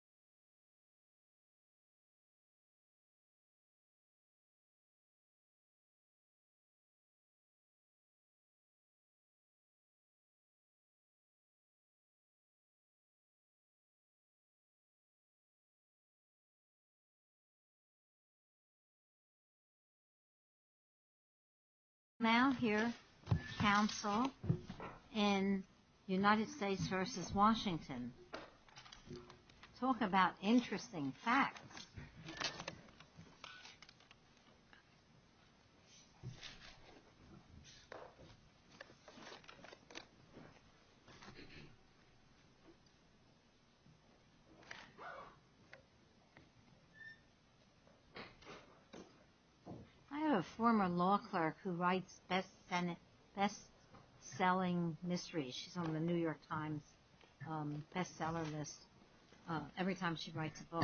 talking about the importance of the American people, I'd like to invite you all to come up to the podium I'd like to invite you all to come up to the podium and have a conversation with me. Now here, Council in United States v. Washington and talk about interesting facts. I have a former law clerk who writes best-selling mysteries. She's on the New York Times best-seller list every time she writes a book.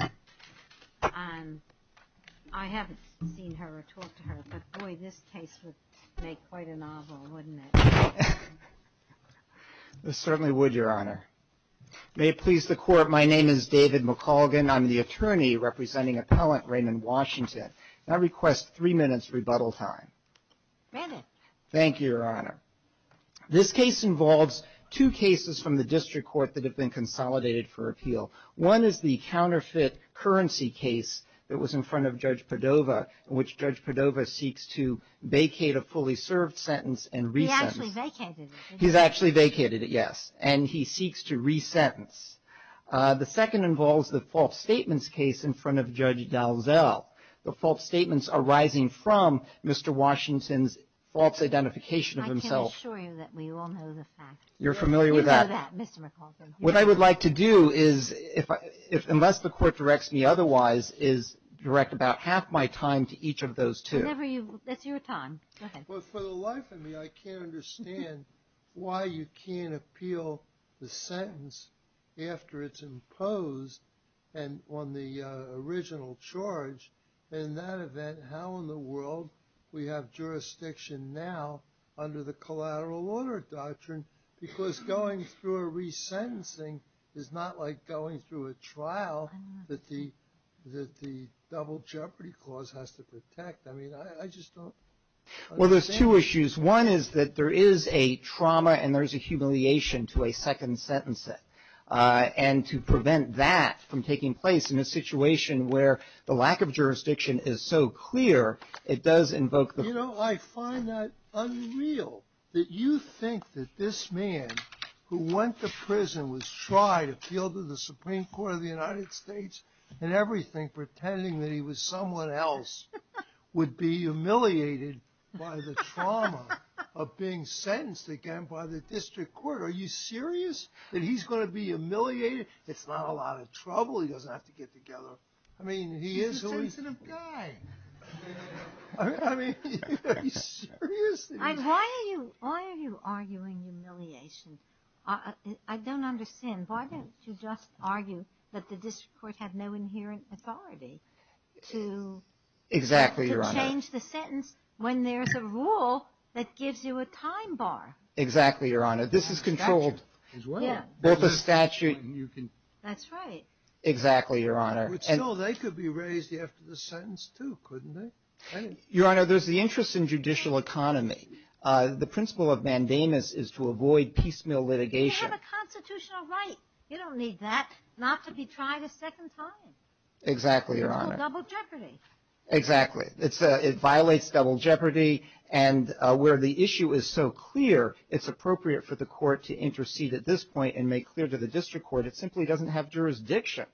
And I haven't seen her or talked to her, but boy, this case would make quite a novel, wouldn't it? Certainly would, Your Honor. May it please the Court, my name is David McColgan. I'm the attorney representing Appellant Raymond Washington. And I request three minutes rebuttal time. Three minutes. Thank you, Your Honor. This case involves two cases from the district court that have been consolidated for appeal. One is the counterfeit currency case that was in front of Judge Padova, in which Judge Padova seeks to vacate a fully served sentence and resent it. He actually vacated it, didn't he? He's actually vacated it, yes. And he seeks to resentence. The second involves the false statements case in front of Judge Dalzell. The false statements arising from Mr. Washington's false identification of himself. I can assure you that we all know the facts. You're familiar with that? We know that, Mr. McColgan. What I would like to do is, unless the Court directs me otherwise, is direct about half my time to each of those two. That's your time. Go ahead. Well, for the life of me, I can't understand why you can't appeal the sentence after it's imposed on the original charge. In that event, how in the world do we have jurisdiction now under the collateral order doctrine? Because going through a resentencing is not like going through a trial that the double jeopardy clause has to protect. I mean, I just don't understand. Well, there's two issues. One is that there is a trauma and there's a humiliation to a second sentencing. And to prevent that from taking place in a situation where the lack of jurisdiction is so clear, it does invoke the... You know, I find that unreal that you think that this man, who went to prison, was tried, appealed to the Supreme Court of the United States, and everything, pretending that he was someone else, would be humiliated by the trauma of being sentenced again by the District Court. Are you serious that he's going to be humiliated? It's not a lot of trouble. He doesn't have to get together. I mean, he is... He's a sensitive guy. I mean, are you serious? Why are you arguing humiliation? I don't understand. Why don't you just argue that the District Court had no inherent authority to... Exactly, Your Honor. ...to change the sentence when there's a rule that gives you a time bar? Exactly, Your Honor. This is controlled. Both the statute... That's right. Exactly, Your Honor. But still, they could be raised after the sentence too, couldn't they? Your Honor, there's the interest in judicial economy. The principle of mandamus is to avoid piecemeal litigation. You have a constitutional right. You don't need that not to be tried a second time. Exactly, Your Honor. It's called double jeopardy. Exactly. It violates double jeopardy. And where the issue is so clear, it's appropriate for the court to intercede at this point and make clear to the District Court it simply doesn't have jurisdiction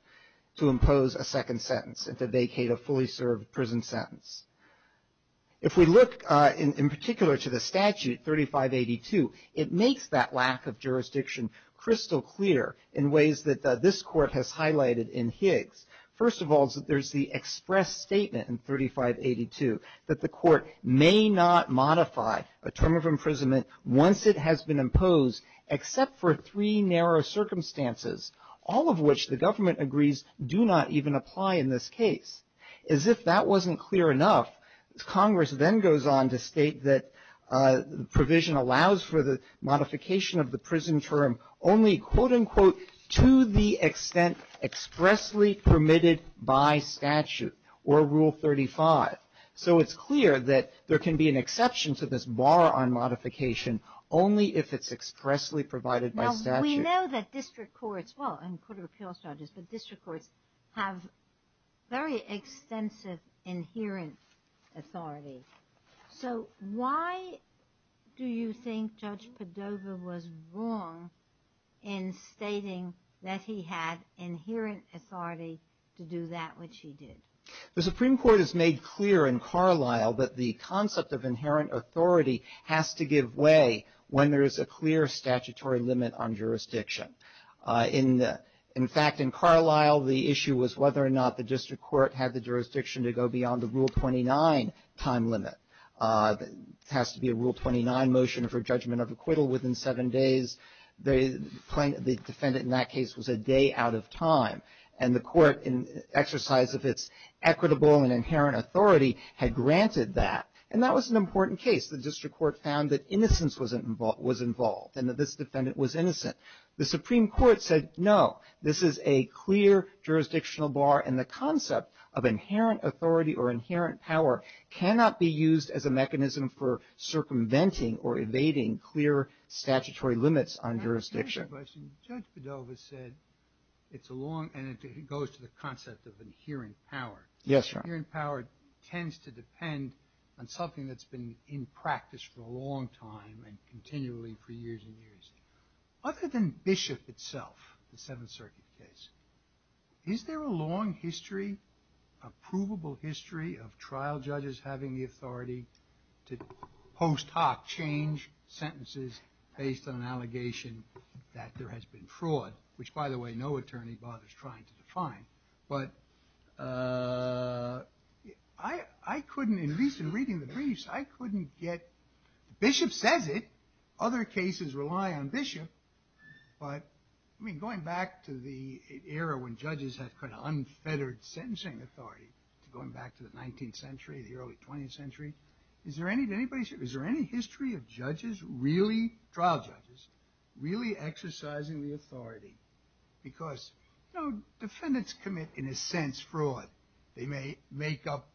to impose a second sentence and to vacate a fully served prison sentence. If we look in particular to the statute 3582, it makes that lack of jurisdiction crystal clear in ways that this Court has highlighted in Higgs. First of all, there's the express statement in 3582 that the court may not modify a term of imprisonment once it has been imposed except for three narrow circumstances, all of which the government agrees do not even apply in this case. As if that wasn't clear enough, Congress then goes on to state that the provision allows for the modification of the prison term only, quote, unquote, to the extent expressly permitted by statute or Rule 35. So it's clear that there can be an exception to this bar on modification only if it's expressly provided by statute. Now, we know that district courts, well, and court of appeals judges, but district courts have very extensive inherent authority. So why do you think Judge Padova was wrong in stating that he had inherent authority to do that which he did? The Supreme Court has made clear in Carlisle that the concept of inherent authority has to give way when there is a clear statutory limit on jurisdiction. In fact, in Carlisle, the issue was whether or not the district court had the jurisdiction to go beyond the Rule 29 time limit. It has to be a Rule 29 motion for judgment of acquittal within seven days. The defendant in that case was a day out of time. And the court, in exercise of its equitable and inherent authority, had granted that. And that was an important case. The district court found that innocence was involved and that this defendant was innocent. The Supreme Court said, no, this is a clear jurisdictional bar. And the concept of inherent authority or inherent power cannot be used as a mechanism for circumventing or evading clear statutory limits on jurisdiction. Judge Padova said it's a long, and it goes to the concept of inherent power. Yes, Your Honor. Inherent power tends to depend on something that's been in practice for a long time and continually for years and years. Other than Bishop itself, the Seventh Circuit case, is there a long history, a provable history of trial judges having the authority to post hoc change sentences based on an allegation that there has been fraud, which, by the way, no attorney bothers trying to define. But I couldn't, at least in reading the briefs, I couldn't get, Bishop says it. Other cases rely on Bishop. But, I mean, going back to the era when judges had kind of unfettered sentencing authority, going back to the 19th century, the early 20th century, is there any history of judges really, trial judges, really exercising the authority? Because, you know, defendants commit, in a sense, fraud. They may make up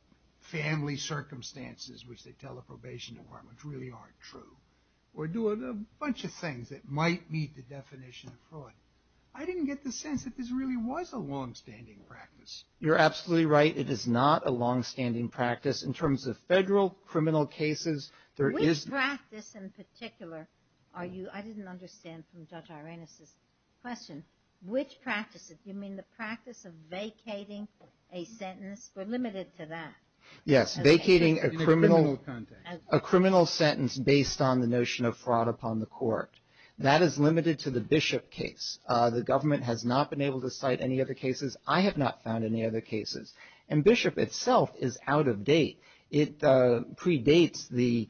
family circumstances, which they tell the probation department, which really aren't true, or do a bunch of things that might meet the definition of fraud. I didn't get the sense that this really was a longstanding practice. You're absolutely right. It is not a longstanding practice in terms of federal criminal cases. Which practice in particular are you, I didn't understand from Judge Irena's question, which practices? You mean the practice of vacating a sentence? We're limited to that. Yes, vacating a criminal sentence. Vacating a criminal sentence based on the notion of fraud upon the court. That is limited to the Bishop case. The government has not been able to cite any other cases. I have not found any other cases. And Bishop itself is out of date. It predates the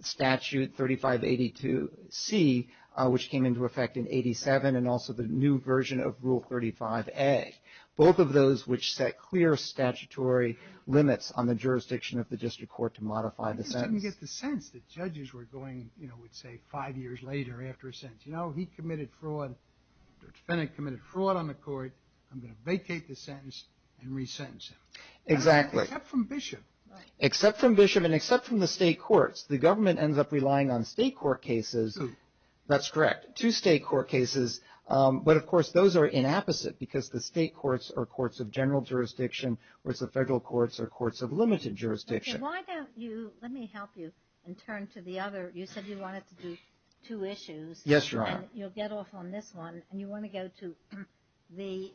statute 3582C, which came into effect in 87, and also the new version of Rule 35A. Both of those which set clear statutory limits on the jurisdiction of the district court to modify the sentence. I didn't get the sense that judges were going, you know, let's say five years later after a sentence. You know, he committed fraud, Judge Fennick committed fraud on the court. I'm going to vacate the sentence and resentence him. Exactly. Except from Bishop. Except from Bishop and except from the state courts. The government ends up relying on state court cases. That's correct. Two state court cases. But, of course, those are inapposite because the state courts are courts of general jurisdiction whereas the federal courts are courts of limited jurisdiction. Why don't you, let me help you and turn to the other. You said you wanted to do two issues. Yes, Your Honor. And you'll get off on this one. And you want to go to the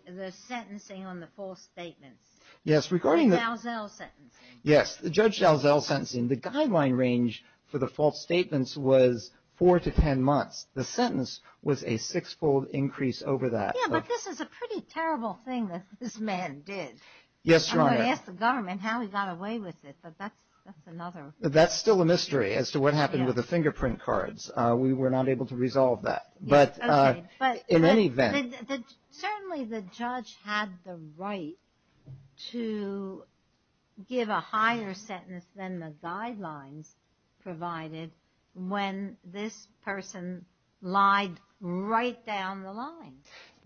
sentencing on the false statements. Yes. Regarding the Dalzell sentencing. Yes. The Judge Dalzell sentencing, the guideline range for the false statements was four to ten months. The sentence was a six-fold increase over that. Yeah, but this is a pretty terrible thing that this man did. Yes, Your Honor. I'm going to ask the government how he got away with it, but that's another. That's still a mystery as to what happened with the fingerprint cards. We were not able to resolve that. But in any event. Certainly the judge had the right to give a higher sentence than the guidelines provided when this person lied right down the line.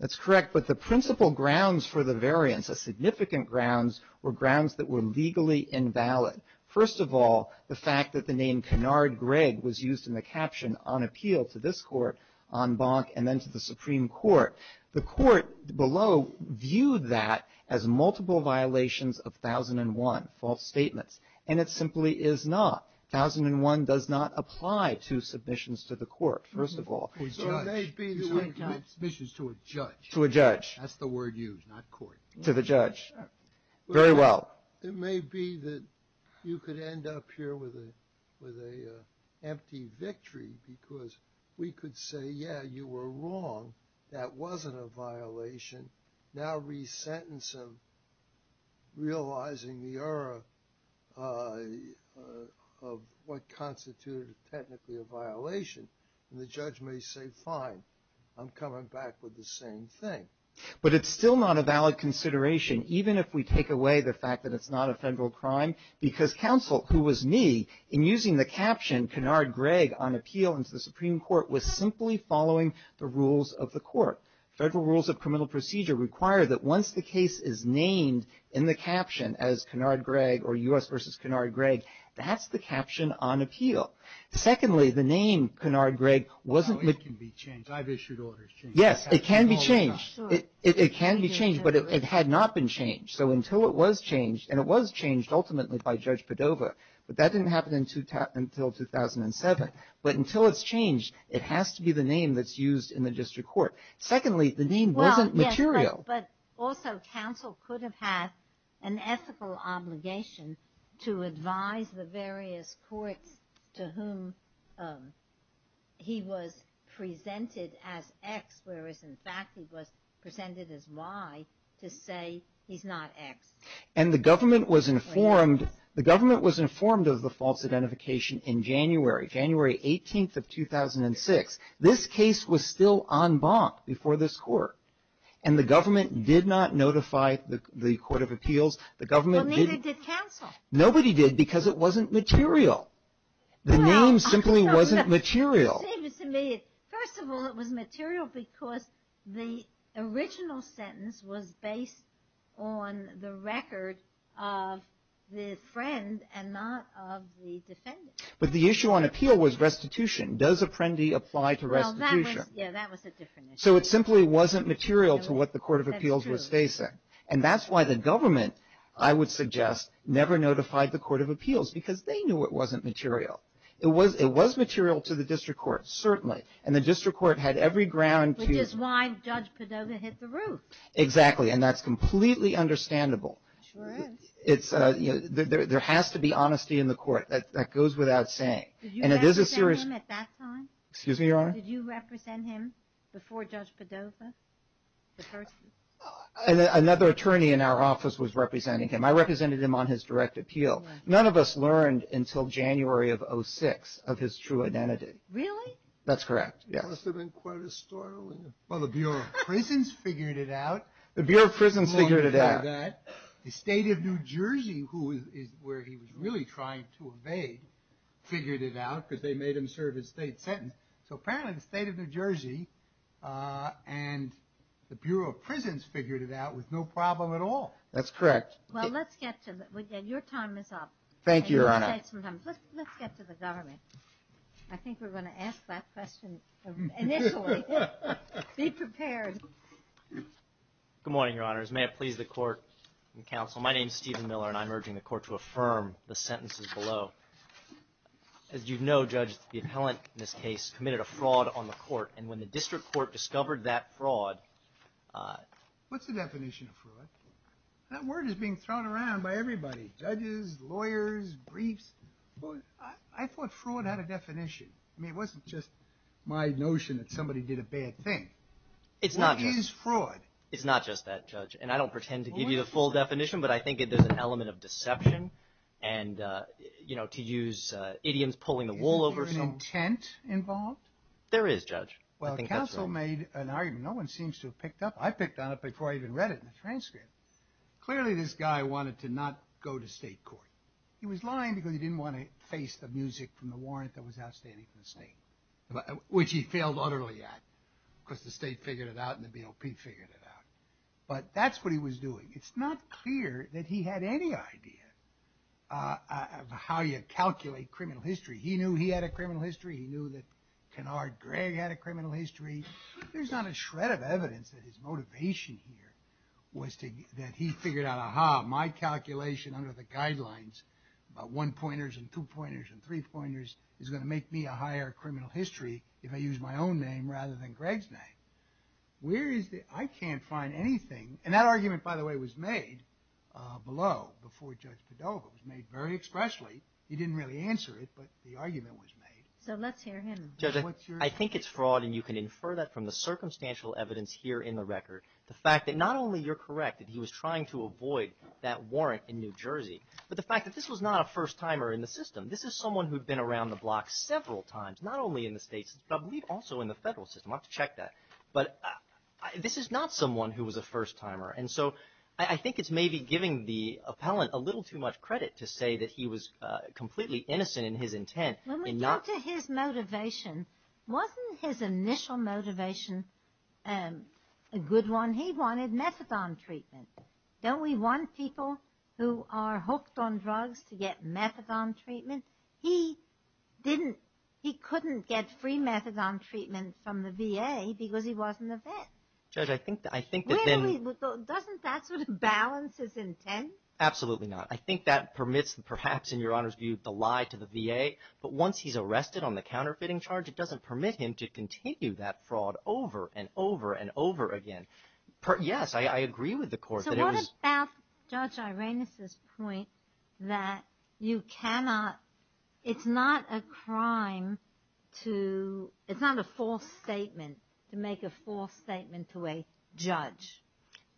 That's correct, but the principal grounds for the variance, the significant grounds were grounds that were legally invalid. First of all, the fact that the name Kennard Gregg was used in the caption on appeal to this court on Bonk and then to the Supreme Court. The court below viewed that as multiple violations of 1001, false statements. And it simply is not. 1001 does not apply to submissions to the court, first of all. To a judge. Submissions to a judge. To a judge. That's the word used, not court. To the judge. Very well. It may be that you could end up here with an empty victory, because we could say, yeah, you were wrong. That wasn't a violation. Now resentence of realizing the error of what constituted technically a violation. And the judge may say, fine, I'm coming back with the same thing. But it's still not a valid consideration. Even if we take away the fact that it's not a federal crime. Because counsel, who was me, in using the caption, Kennard Gregg on appeal into the Supreme Court, was simply following the rules of the court. Federal rules of criminal procedure require that once the case is named in the caption as Kennard Gregg or U.S. versus Kennard Gregg, that's the caption on appeal. Secondly, the name Kennard Gregg wasn't. It can be changed. I've issued orders. Yes, it can be changed. It can be changed. But it had not been changed. So until it was changed, and it was changed ultimately by Judge Padova, but that didn't happen until 2007. But until it's changed, it has to be the name that's used in the district court. Secondly, the name wasn't material. But also counsel could have had an ethical obligation to advise the various courts to whom he was presented as X, whereas in fact he was presented as Y, to say he's not X. And the government was informed of the false identification in January, January 18th of 2006. This case was still en banc before this court. And the government did not notify the Court of Appeals. Well, neither did counsel. Nobody did because it wasn't material. The name simply wasn't material. First of all, it was material because the original sentence was based on the record of the friend and not of the defendant. But the issue on appeal was restitution. Does apprendi apply to restitution? Yeah, that was a different issue. So it simply wasn't material to what the Court of Appeals was facing. And that's why the government, I would suggest, never notified the Court of Appeals, because they knew it wasn't material. It was material to the district court, certainly. And the district court had every ground to. Which is why Judge Padova hit the roof. Exactly. And that's completely understandable. It sure is. There has to be honesty in the court. That goes without saying. Did you represent him at that time? Excuse me, Your Honor? Did you represent him before Judge Padova, the person? Another attorney in our office was representing him. I represented him on his direct appeal. None of us learned until January of 06 of his true identity. Really? That's correct, yes. It must have been quite a story. Well, the Bureau of Prisons figured it out. The Bureau of Prisons figured it out. The State of New Jersey, where he was really trying to evade, figured it out, because they made him serve his state sentence. So apparently, the State of New Jersey and the Bureau of Prisons figured it out with no problem at all. That's correct. Well, let's get to it. Your time is up. Thank you, Your Honor. Let's get to the government. I think we're going to ask that question initially. Be prepared. Good morning, Your Honors. May it please the court and counsel, my name is Stephen Miller, and I'm urging the court to affirm the sentences below. As you know, Judge, the appellant in this case committed a fraud on the court, and when the district court discovered that fraud... What's the definition of fraud? That word is being thrown around by everybody, judges, lawyers, briefs. I thought fraud had a definition. I mean, it wasn't just my notion that somebody did a bad thing. It's not just... What is fraud? It's not just that, Judge, and I don't pretend to give you the full definition, but I think there's an element of deception and, you know, to use idioms, pulling the wool over some... Is there an intent involved? There is, Judge. Well, counsel made an argument. No one seems to have picked up. I picked on it before I even read it in the transcript. Clearly, this guy wanted to not go to state court. He was lying because he didn't want to face the music from the warrant that was outstanding for the state, which he failed utterly at, because the state figured it out and the BOP figured it out. But that's what he was doing. It's not clear that he had any idea of how you calculate criminal history. He knew he had a criminal history. He knew that Kennard Gregg had a criminal history. There's not a shred of evidence that his motivation here was that he figured out, aha, my calculation under the guidelines about one-pointers and two-pointers and three-pointers is going to make me a higher criminal history if I use my own name rather than Gregg's name. Where is the... I can't find anything. And that argument, by the way, was made below before Judge Padova. It was made very expressly. He didn't really answer it, but the argument was made. So let's hear him. Judge, I think it's fraud, and you can infer that from the circumstantial evidence here in the record. The fact that not only you're correct that he was trying to avoid that warrant in New Jersey, but the fact that this was not a first-timer in the system. This is someone who'd been around the block several times, not only in the state system, but I believe also in the federal system. I'll have to check that. But this is not someone who was a first-timer, and so I think it's maybe giving the appellant a little too much credit to say that he was completely innocent in his intent in not... When we come to his motivation, wasn't his initial motivation a good one? He wanted methadone treatment. Don't we want people who are hooked on drugs to get methadone treatment? He couldn't get free methadone treatment from the VA because he wasn't a vet. Judge, I think that then... Doesn't that sort of balance his intent? Absolutely not. I think that permits, perhaps in Your Honor's view, the lie to the VA. But once he's arrested on the counterfeiting charge, it doesn't permit him to continue that fraud over and over and over again. Yes, I agree with the court that it was... About Judge Arenas' point that you cannot... It's not a crime to... It's not a false statement to make a false statement to a judge.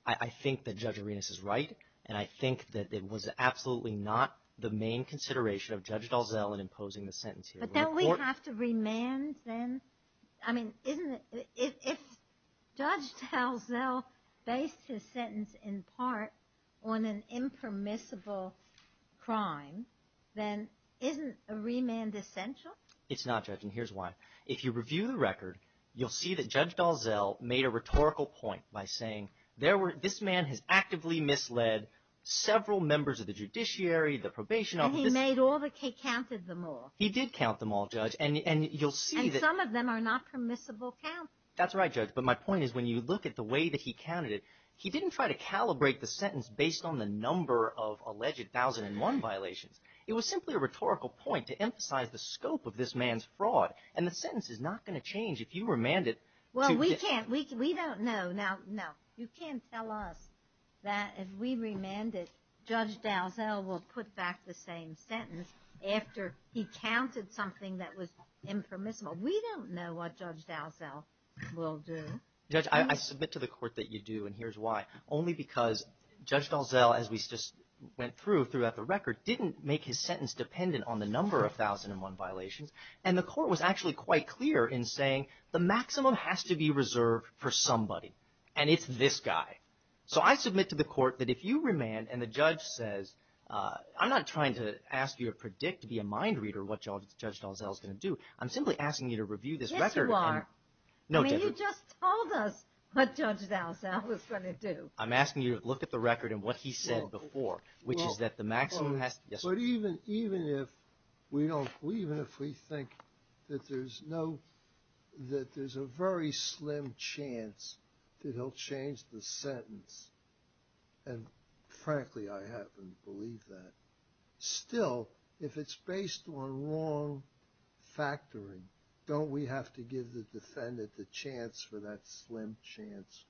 I think that Judge Arenas is right, and I think that it was absolutely not the main consideration of Judge Dalzell in imposing the sentence here. But don't we have to remand then? If Judge Dalzell based his sentence in part on an impermissible crime, then isn't a remand essential? It's not, Judge, and here's why. If you review the record, you'll see that Judge Dalzell made a rhetorical point by saying, this man has actively misled several members of the judiciary, the probation office... And he counted them all. He did count them all, Judge, and you'll see that... Some of them are not permissible counts. That's right, Judge, but my point is when you look at the way that he counted it, he didn't try to calibrate the sentence based on the number of alleged 1001 violations. It was simply a rhetorical point to emphasize the scope of this man's fraud, and the sentence is not going to change if you remand it to... Well, we don't know. Now, no, you can't tell us that if we remand it, Judge Dalzell will put back the same sentence after he counted something that was impermissible. We don't know what Judge Dalzell will do. Judge, I submit to the court that you do, and here's why. Only because Judge Dalzell, as we just went through throughout the record, didn't make his sentence dependent on the number of 1001 violations, and the court was actually quite clear in saying the maximum has to be reserved for somebody, and it's this guy. So I submit to the court that if you remand and the judge says... I'm not trying to ask you to predict via mind reader what Judge Dalzell is going to do. I'm simply asking you to review this record. Yes, you are. No, Deborah. You just told us what Judge Dalzell was going to do. I'm asking you to look at the record and what he said before, which is that the maximum has to... Even if we think that there's a very slim chance that he'll change the sentence, and frankly I happen to believe that, still, if it's based on wrong factoring, don't we have to give the defendant the chance for that slim chance?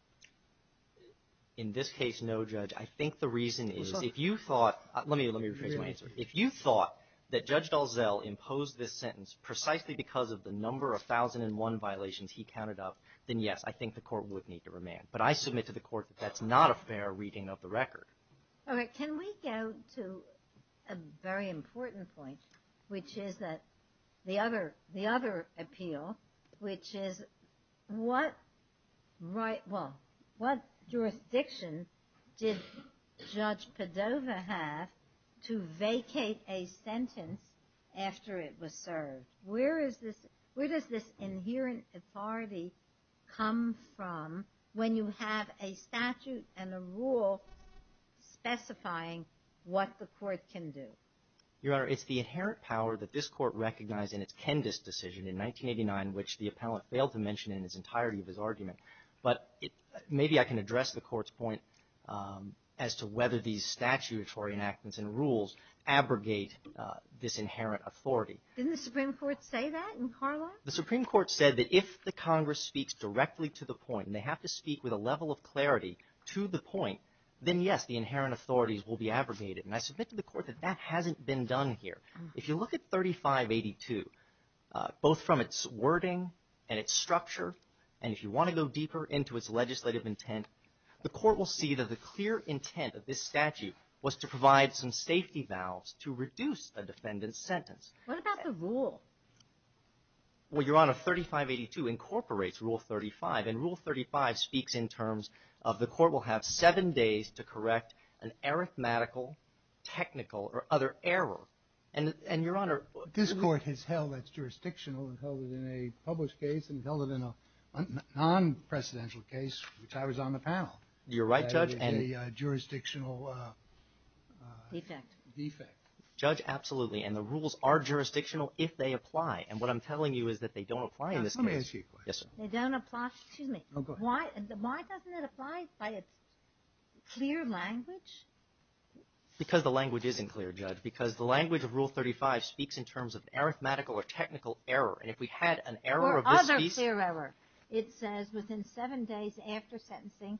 In this case, no, Judge. I think the reason is if you thought... Let me rephrase my answer. If you thought that Judge Dalzell imposed this sentence precisely because of the number of 1001 violations he counted up, then yes, I think the court would need to remand. But I submit to the court that that's not a fair reading of the record. All right. Can we go to a very important point, which is the other appeal, which is what jurisdiction did Judge Padova have to vacate a sentence after it was served? Where does this inherent authority come from when you have a statute and a rule specifying what the court can do? Your Honor, it's the inherent power that this court recognized in its Kendis decision in 1989, which the appellant failed to mention in its entirety of his argument. But maybe I can address the court's point as to whether these statutory enactments and rules abrogate this inherent authority. Didn't the Supreme Court say that in Carlisle? The Supreme Court said that if the Congress speaks directly to the point and they have to speak with a level of clarity to the point, then yes, the inherent authorities will be abrogated. And I submit to the court that that hasn't been done here. If you look at 3582, both from its wording and its structure, and if you want to go deeper into its legislative intent, the court will see that the clear intent of this statute was to provide some safety valves to reduce a defendant's sentence. What about the rule? Well, Your Honor, 3582 incorporates Rule 35, and Rule 35 speaks in terms of the court will have seven days to correct an arithmetical, technical, or other error. And, Your Honor, This court has held that it's jurisdictional and held it in a published case and held it in a non-presidential case, which I was on the panel. You're right, Judge. It's a jurisdictional defect. Judge, absolutely. And the rules are jurisdictional if they apply. And what I'm telling you is that they don't apply in this case. They don't apply. Excuse me. Oh, go ahead. Why doesn't it apply by its clear language? Because the language isn't clear, Judge. Because the language of Rule 35 speaks in terms of arithmetical or technical error. And if we had an error of this piece. Or other clear error. It says within seven days after sentencing,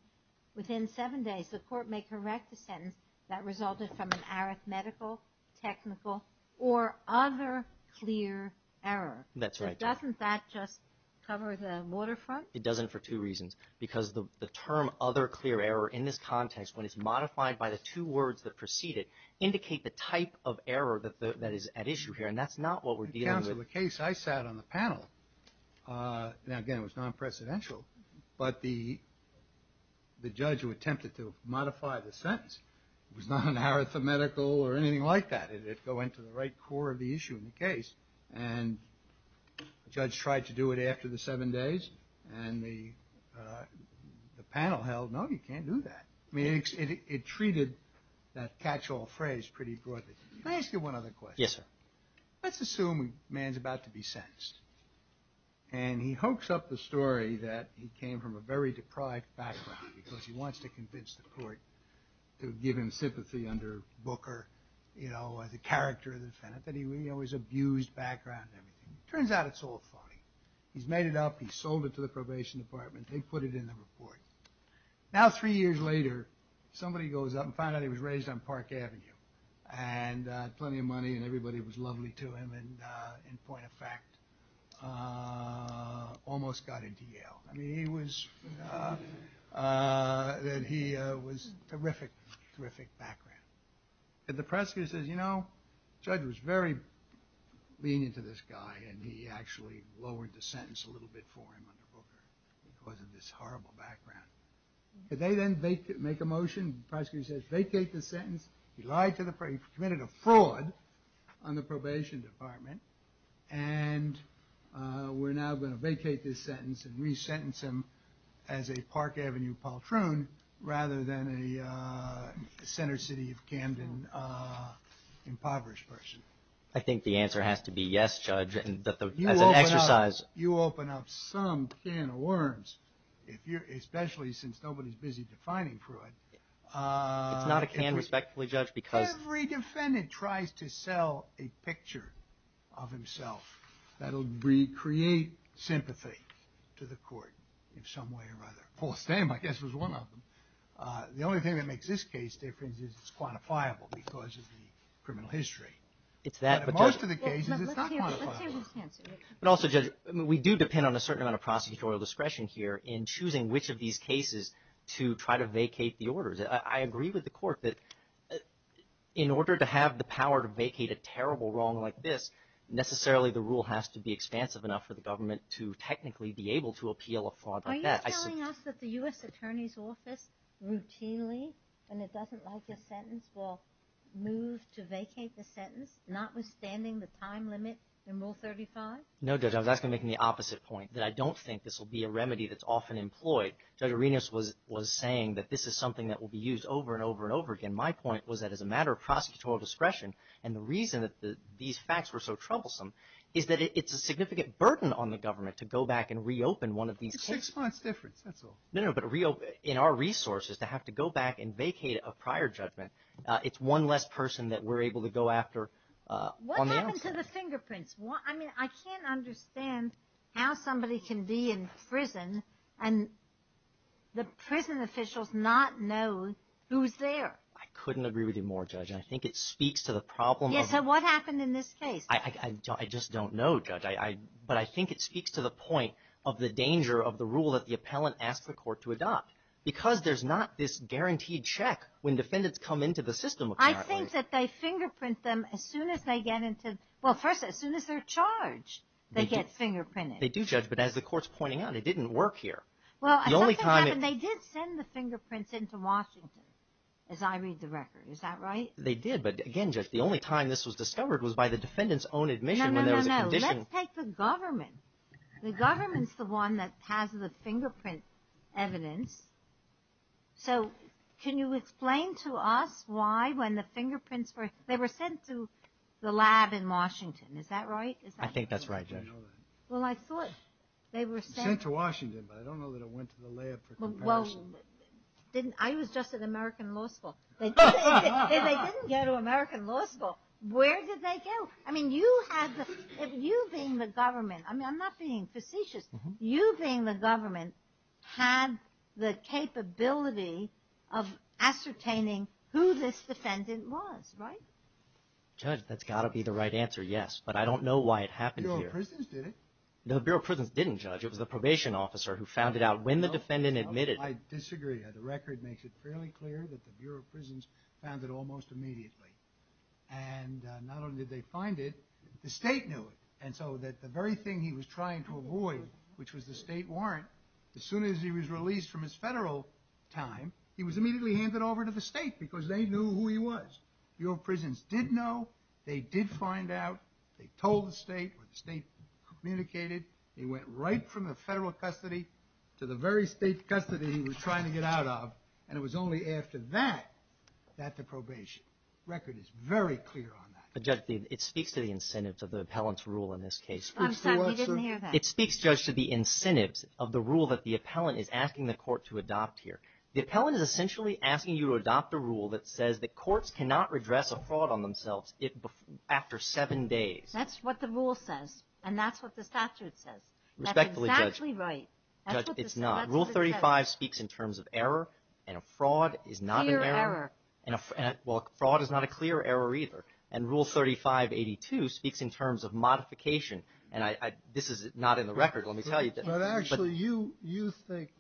the court may correct the sentence that resulted from an arithmetical, technical, or other clear error. That's right, Judge. Doesn't that just cover the waterfront? It doesn't for two reasons. Because the term other clear error in this context, when it's modified by the two words that precede it, indicate the type of error that is at issue here. And that's not what we're dealing with. In the case I sat on the panel, now, again, it was non-presidential, but the judge who attempted to modify the sentence was not an arithmetical or anything like that. It went to the right core of the issue in the case. And the judge tried to do it after the seven days. And the panel held, no, you can't do that. I mean, it treated that catch-all phrase pretty broadly. May I ask you one other question? Yes, sir. Let's assume a man's about to be sentenced. And he hoax up the story that he came from a very deprived background because he wants to convince the court to give him sympathy under Booker, you know, as a character of the defendant, that he was abused background and everything. Turns out it's all funny. He's made it up. He sold it to the probation department. They put it in the report. Now, three years later, somebody goes up and finds out he was raised on Park Avenue and had plenty of money and everybody was lovely to him and, in point of fact, almost got into Yale. I mean, he was terrific, terrific background. And the prosecutor says, you know, the judge was very lenient to this guy and he actually lowered the sentence a little bit for him under Booker because of this horrible background. Did they then make a motion? The prosecutor says, vacate the sentence. He committed a fraud on the probation department and we're now going to vacate this sentence and resentence him as a Park Avenue paltroon rather than a center city of Camden impoverished person. I think the answer has to be yes, Judge, and that as an exercise... You open up some can of worms, especially since nobody's busy defining fraud. It's not a can, respectfully, Judge, because... Every defendant tries to sell a picture of himself. That will create sympathy to the court in some way or other. Paul Stam, I guess, was one of them. The only thing that makes this case different is it's quantifiable because of the criminal history. But in most of the cases, it's not quantifiable. But also, Judge, we do depend on a certain amount of prosecutorial discretion here in choosing which of these cases to try to vacate the orders. I agree with the court that in order to have the power to vacate a terrible wrong like this, necessarily the rule has to be expansive enough for the government to technically be able to appeal a fraud like that. Are you telling us that the U.S. Attorney's Office routinely, when it doesn't like a sentence, will move to vacate the sentence, notwithstanding the time limit in Rule 35? No, Judge, I was actually making the opposite point, that I don't think this will be a remedy that's often employed. Judge Arenas was saying that this is something that will be used over and over and over again. My point was that as a matter of prosecutorial discretion, and the reason that these facts were so troublesome is that it's a significant burden on the government to go back and reopen one of these cases. It's six months difference, that's all. No, no, but in our resources, to have to go back and vacate a prior judgment, it's one less person that we're able to go after on the outside. What happened to the fingerprints? I mean, I can't understand how somebody can be in prison and the prison officials not know who's there. I couldn't agree with you more, Judge. I think it speaks to the problem of... Yes, so what happened in this case? I just don't know, Judge, but I think it speaks to the point of the danger of the rule that the appellant asked the court to adopt because there's not this guaranteed check when defendants come into the system, apparently. I think that they fingerprint them as soon as they get into... Well, first, as soon as they're charged, they get fingerprinted. They do, Judge, but as the court's pointing out, it didn't work here. The only time... Well, something happened. They did send the fingerprints into Washington, as I read the record. Is that right? They did, but again, Judge, the only time this was discovered was by the defendant's own admission when there was a condition... No, no, no, no. Let's take the government. The government's the one that has the fingerprint evidence. So can you explain to us why, when the fingerprints were... The lab in Washington, is that right? I think that's right, Judge. Well, I thought they were sent... Sent to Washington, but I don't know that it went to the lab for comparison. Well, I was just at American Law School. If they didn't go to American Law School, where did they go? I mean, you being the government, I'm not being facetious, you being the government had the capability of ascertaining who this defendant was, right? Judge, that's got to be the right answer, yes. But I don't know why it happened here. The Bureau of Prisons did it? No, the Bureau of Prisons didn't, Judge. It was the probation officer who found it out when the defendant admitted. I disagree. The record makes it fairly clear that the Bureau of Prisons found it almost immediately. And not only did they find it, the state knew it. And so the very thing he was trying to avoid, which was the state warrant, as soon as he was released from his federal time, he was immediately handed over to the state because they knew who he was. Bureau of Prisons did know. They did find out. They told the state. The state communicated. He went right from the federal custody to the very state custody he was trying to get out of. And it was only after that, that the probation. The record is very clear on that. Judge, it speaks to the incentives of the appellant's rule in this case. I'm sorry, we didn't hear that. It speaks, Judge, to the incentives of the rule that the appellant is asking the court to adopt here. The appellant is essentially asking you to adopt a rule that says that courts cannot redress a fraud on themselves after seven days. That's what the rule says. And that's what the statute says. Respectfully, Judge. That's exactly right. Judge, it's not. Rule 35 speaks in terms of error, and a fraud is not an error. Clear error. Well, fraud is not a clear error either. And Rule 3582 speaks in terms of modification. And this is not in the record, let me tell you. But actually, you think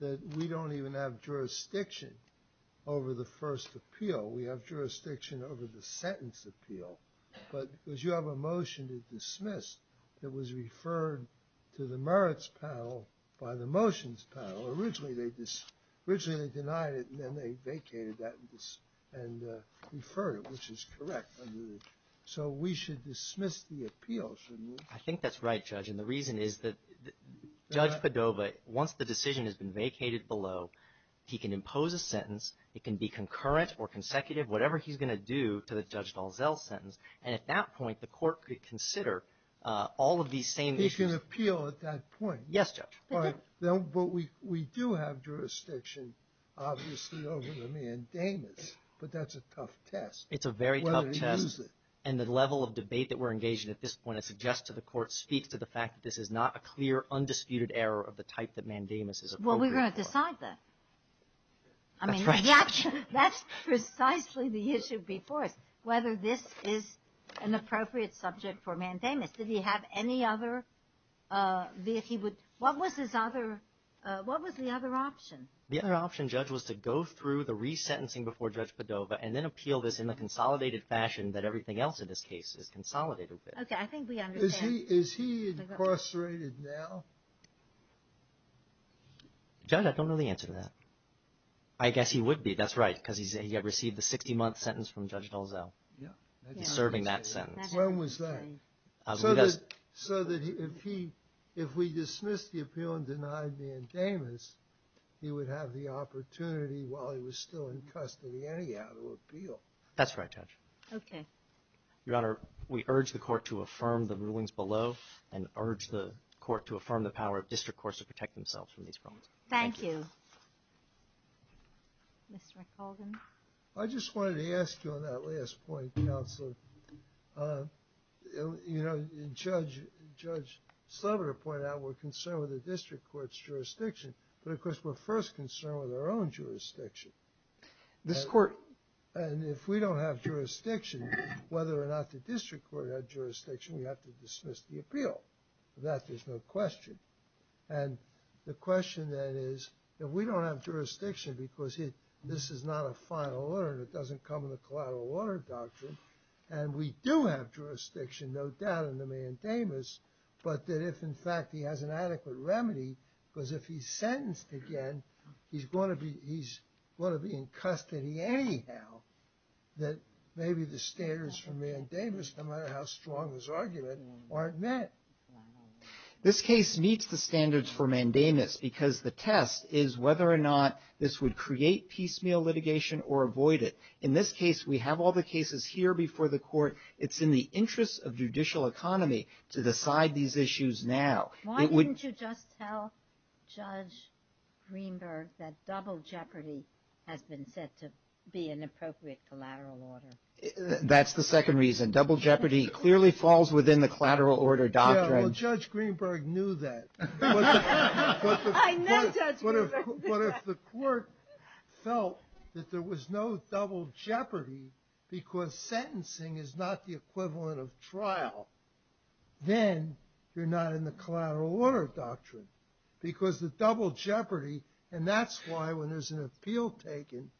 that we don't even have jurisdiction over the first appeal. We have jurisdiction over the sentence appeal. But because you have a motion to dismiss that was referred to the merits panel by the motions panel. Originally, they denied it, and then they vacated that and referred it, which is correct. So we should dismiss the appeal, shouldn't we? I think that's right, Judge. And the reason is that Judge Padova, once the decision has been vacated below, he can impose a sentence. It can be concurrent or consecutive, whatever he's going to do to the Judge Dalzell sentence. And at that point, the Court could consider all of these same issues. He can appeal at that point. Yes, Judge. But we do have jurisdiction, obviously, over the mandamus. But that's a tough test. It's a very tough test. Whether to use it. And the level of debate that we're engaged in at this point, I suggest to the Court, speaks to the fact that this is not a clear, undisputed error of the type that mandamus is appropriate for. Well, we're going to decide that. I mean, that's precisely the issue before us, whether this is an appropriate subject for mandamus. Did he have any other? What was the other option? The other option, Judge, was to go through the resentencing before Judge Padova and then appeal this in the consolidated fashion that everything else in this case is consolidated with. Okay, I think we understand. Is he incarcerated now? Judge, I don't know the answer to that. I guess he would be, that's right, because he received the 60-month sentence from Judge Dalzell. Yeah. He's serving that sentence. When was that? So that if he, if we dismiss the appeal and deny the mandamus, he would have the opportunity, while he was still in custody, anyhow to appeal. That's right, Judge. Okay. Your Honor, we urge the Court to affirm the rulings below and urge the Court to affirm the power of District Courts to protect themselves from these problems. Thank you. Mr. McCaldin. I just wanted to ask you on that last point, Counselor. You know, Judge Sloboda pointed out we're concerned with the District Court's jurisdiction, but of course we're first concerned with our own jurisdiction. This Court. And if we don't have jurisdiction, whether or not the District Court had jurisdiction, we have to dismiss the appeal. For that, there's no question. And the question then is, if we don't have jurisdiction because this is not a final order and it doesn't come in the collateral order doctrine, and we do have jurisdiction, no doubt, in the mandamus, but that if, in fact, he has an adequate remedy, because if he's sentenced again, he's going to be, he's going to be in custody anyhow, that maybe the standards for mandamus, no matter how strong his argument, aren't met. This case meets the standards for mandamus because the test is whether or not this would create piecemeal litigation or avoid it. In this case, we have all the cases here before the Court. It's in the interest of judicial economy to decide these issues now. Why didn't you just tell Judge Greenberg that double jeopardy has been said to be an appropriate collateral order? That's the second reason. Double jeopardy clearly falls within the collateral order doctrine. Yeah, well, Judge Greenberg knew that. I met Judge Greenberg. But if the Court felt that there was no double jeopardy because sentencing is not the equivalent of trial, then you're not in the collateral order doctrine because the double jeopardy, and that's why when there's an appeal taken,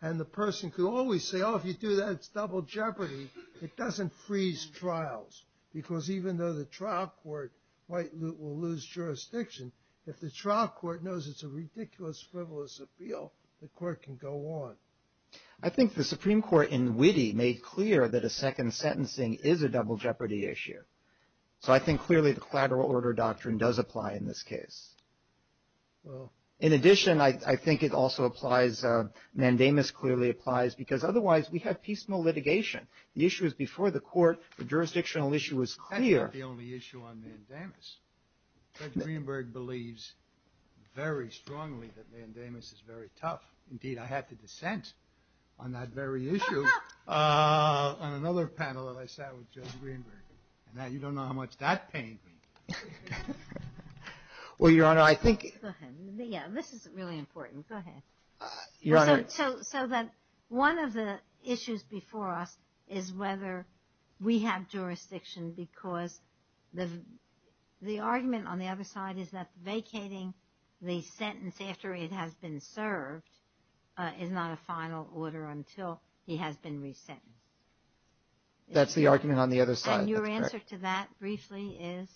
and the person could always say, oh, if you do that, it's double jeopardy, it doesn't freeze trials because even though the trial court might lose jurisdiction, if the trial court knows it's a ridiculous, frivolous appeal, the Court can go on. I think the Supreme Court, in witty, made clear that a second sentencing is a double jeopardy issue. So I think clearly the collateral order doctrine does apply in this case. Well, in addition, I think it also applies, mandamus clearly applies, because otherwise we have peaceful litigation. The issue was before the Court. The jurisdictional issue was clear. That's not the only issue on mandamus. Judge Greenberg believes very strongly that mandamus is very tough. Indeed, I had to dissent on that very issue on another panel that I sat with Judge Greenberg. Now you don't know how much that pained me. Well, Your Honor, I think... Go ahead. Yeah, this is really important. Go ahead. Your Honor... So that one of the issues before us is whether we have jurisdiction because the argument on the other side is that vacating the sentence after it has been served is not a final order until he has been resentenced. That's the argument on the other side. Your answer to that briefly is...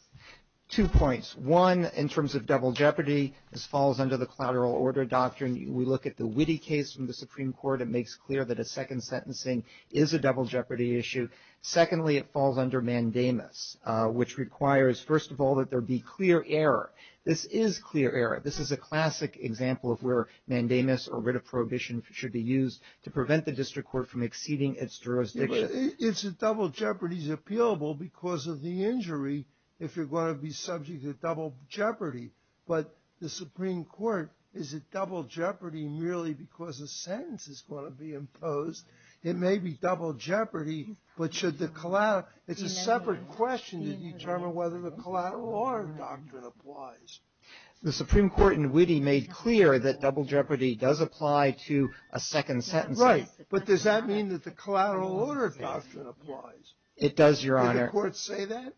Two points. One, in terms of double jeopardy, this falls under the collateral order doctrine. We look at the Witte case from the Supreme Court. It makes clear that a second sentencing is a double jeopardy issue. Secondly, it falls under mandamus, which requires, first of all, that there be clear error. This is clear error. This is a classic example of where mandamus or writ of prohibition should be used to prevent the district court from exceeding its jurisdiction. It's that double jeopardy is appealable because of the injury if you're going to be subject to double jeopardy. But the Supreme Court, is it double jeopardy merely because a sentence is going to be imposed? It may be double jeopardy, but should the collateral... It's a separate question to determine whether the collateral order doctrine applies. The Supreme Court in Witte made clear that double jeopardy does apply to a second sentencing. Right. But does that mean that the collateral order doctrine applies? It does, Your Honor. Did the court say that?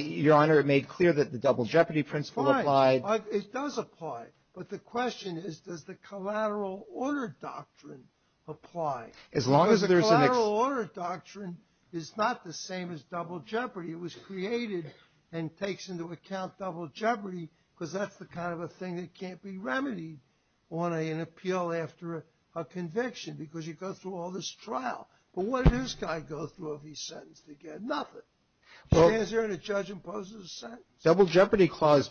Your Honor, it made clear that the double jeopardy principle applied. It does apply. But the question is, does the collateral order doctrine apply? As long as there's an... Because the collateral order doctrine is not the same as double jeopardy. It was created and takes into account double jeopardy because that's the kind of a thing that can't be remedied on an appeal after a conviction because you go through all this trial. But what does this guy go through if he's sentenced again? Nothing. He stands there and a judge imposes a sentence. Double jeopardy clause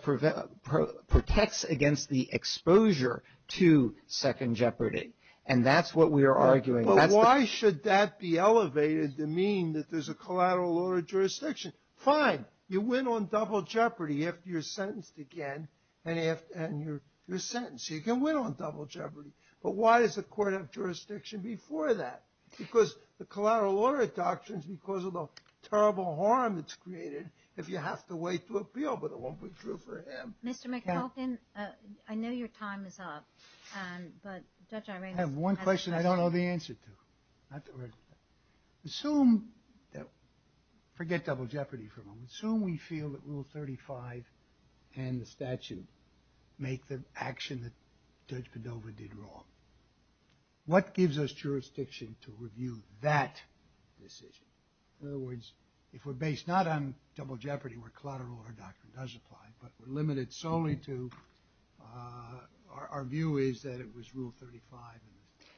protects against the exposure to second jeopardy. And that's what we are arguing. But why should that be elevated to mean that there's a collateral order jurisdiction? Fine. You win on double jeopardy if you're sentenced again. And you're sentenced. You can win on double jeopardy. But why does the court have jurisdiction before that? Because the collateral order doctrine is because of the terrible harm it's created if you have to wait to appeal. But it won't be true for him. Mr. McTelton, I know your time is up. But Judge Airena has a question. I have one question I don't know the answer to. Assume that... Forget double jeopardy for a moment. Assume we feel that Rule 35 and the statute make the action that Judge Padova did wrong. What gives us jurisdiction to review that decision? In other words, if we're based not on double jeopardy where collateral order doctrine does apply, but we're limited solely to our view is that it was Rule 35.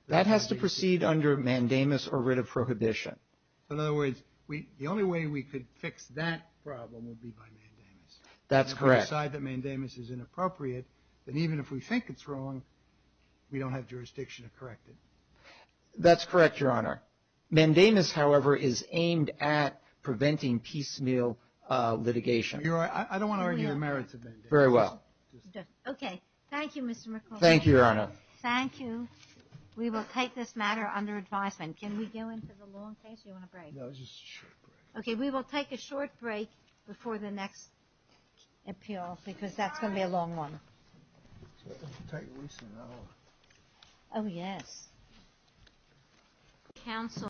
That has to proceed under mandamus or writ of prohibition. In other words, the only way we could fix that problem would be by mandamus. That's correct. If we decide that mandamus is inappropriate, then even if we think it's wrong, we don't have jurisdiction to correct it. That's correct, Your Honor. Mandamus, however, is aimed at preventing piecemeal litigation. You're right. I don't want to argue the merits of mandamus. Very well. Okay. Thank you, Mr. McLaughlin. Thank you, Your Honor. Thank you. We will take this matter under advisement. Can we go into the long case? Do you want a break? No, just a short break. Before the next appeal, because that's going to be a long one. Oh, yes.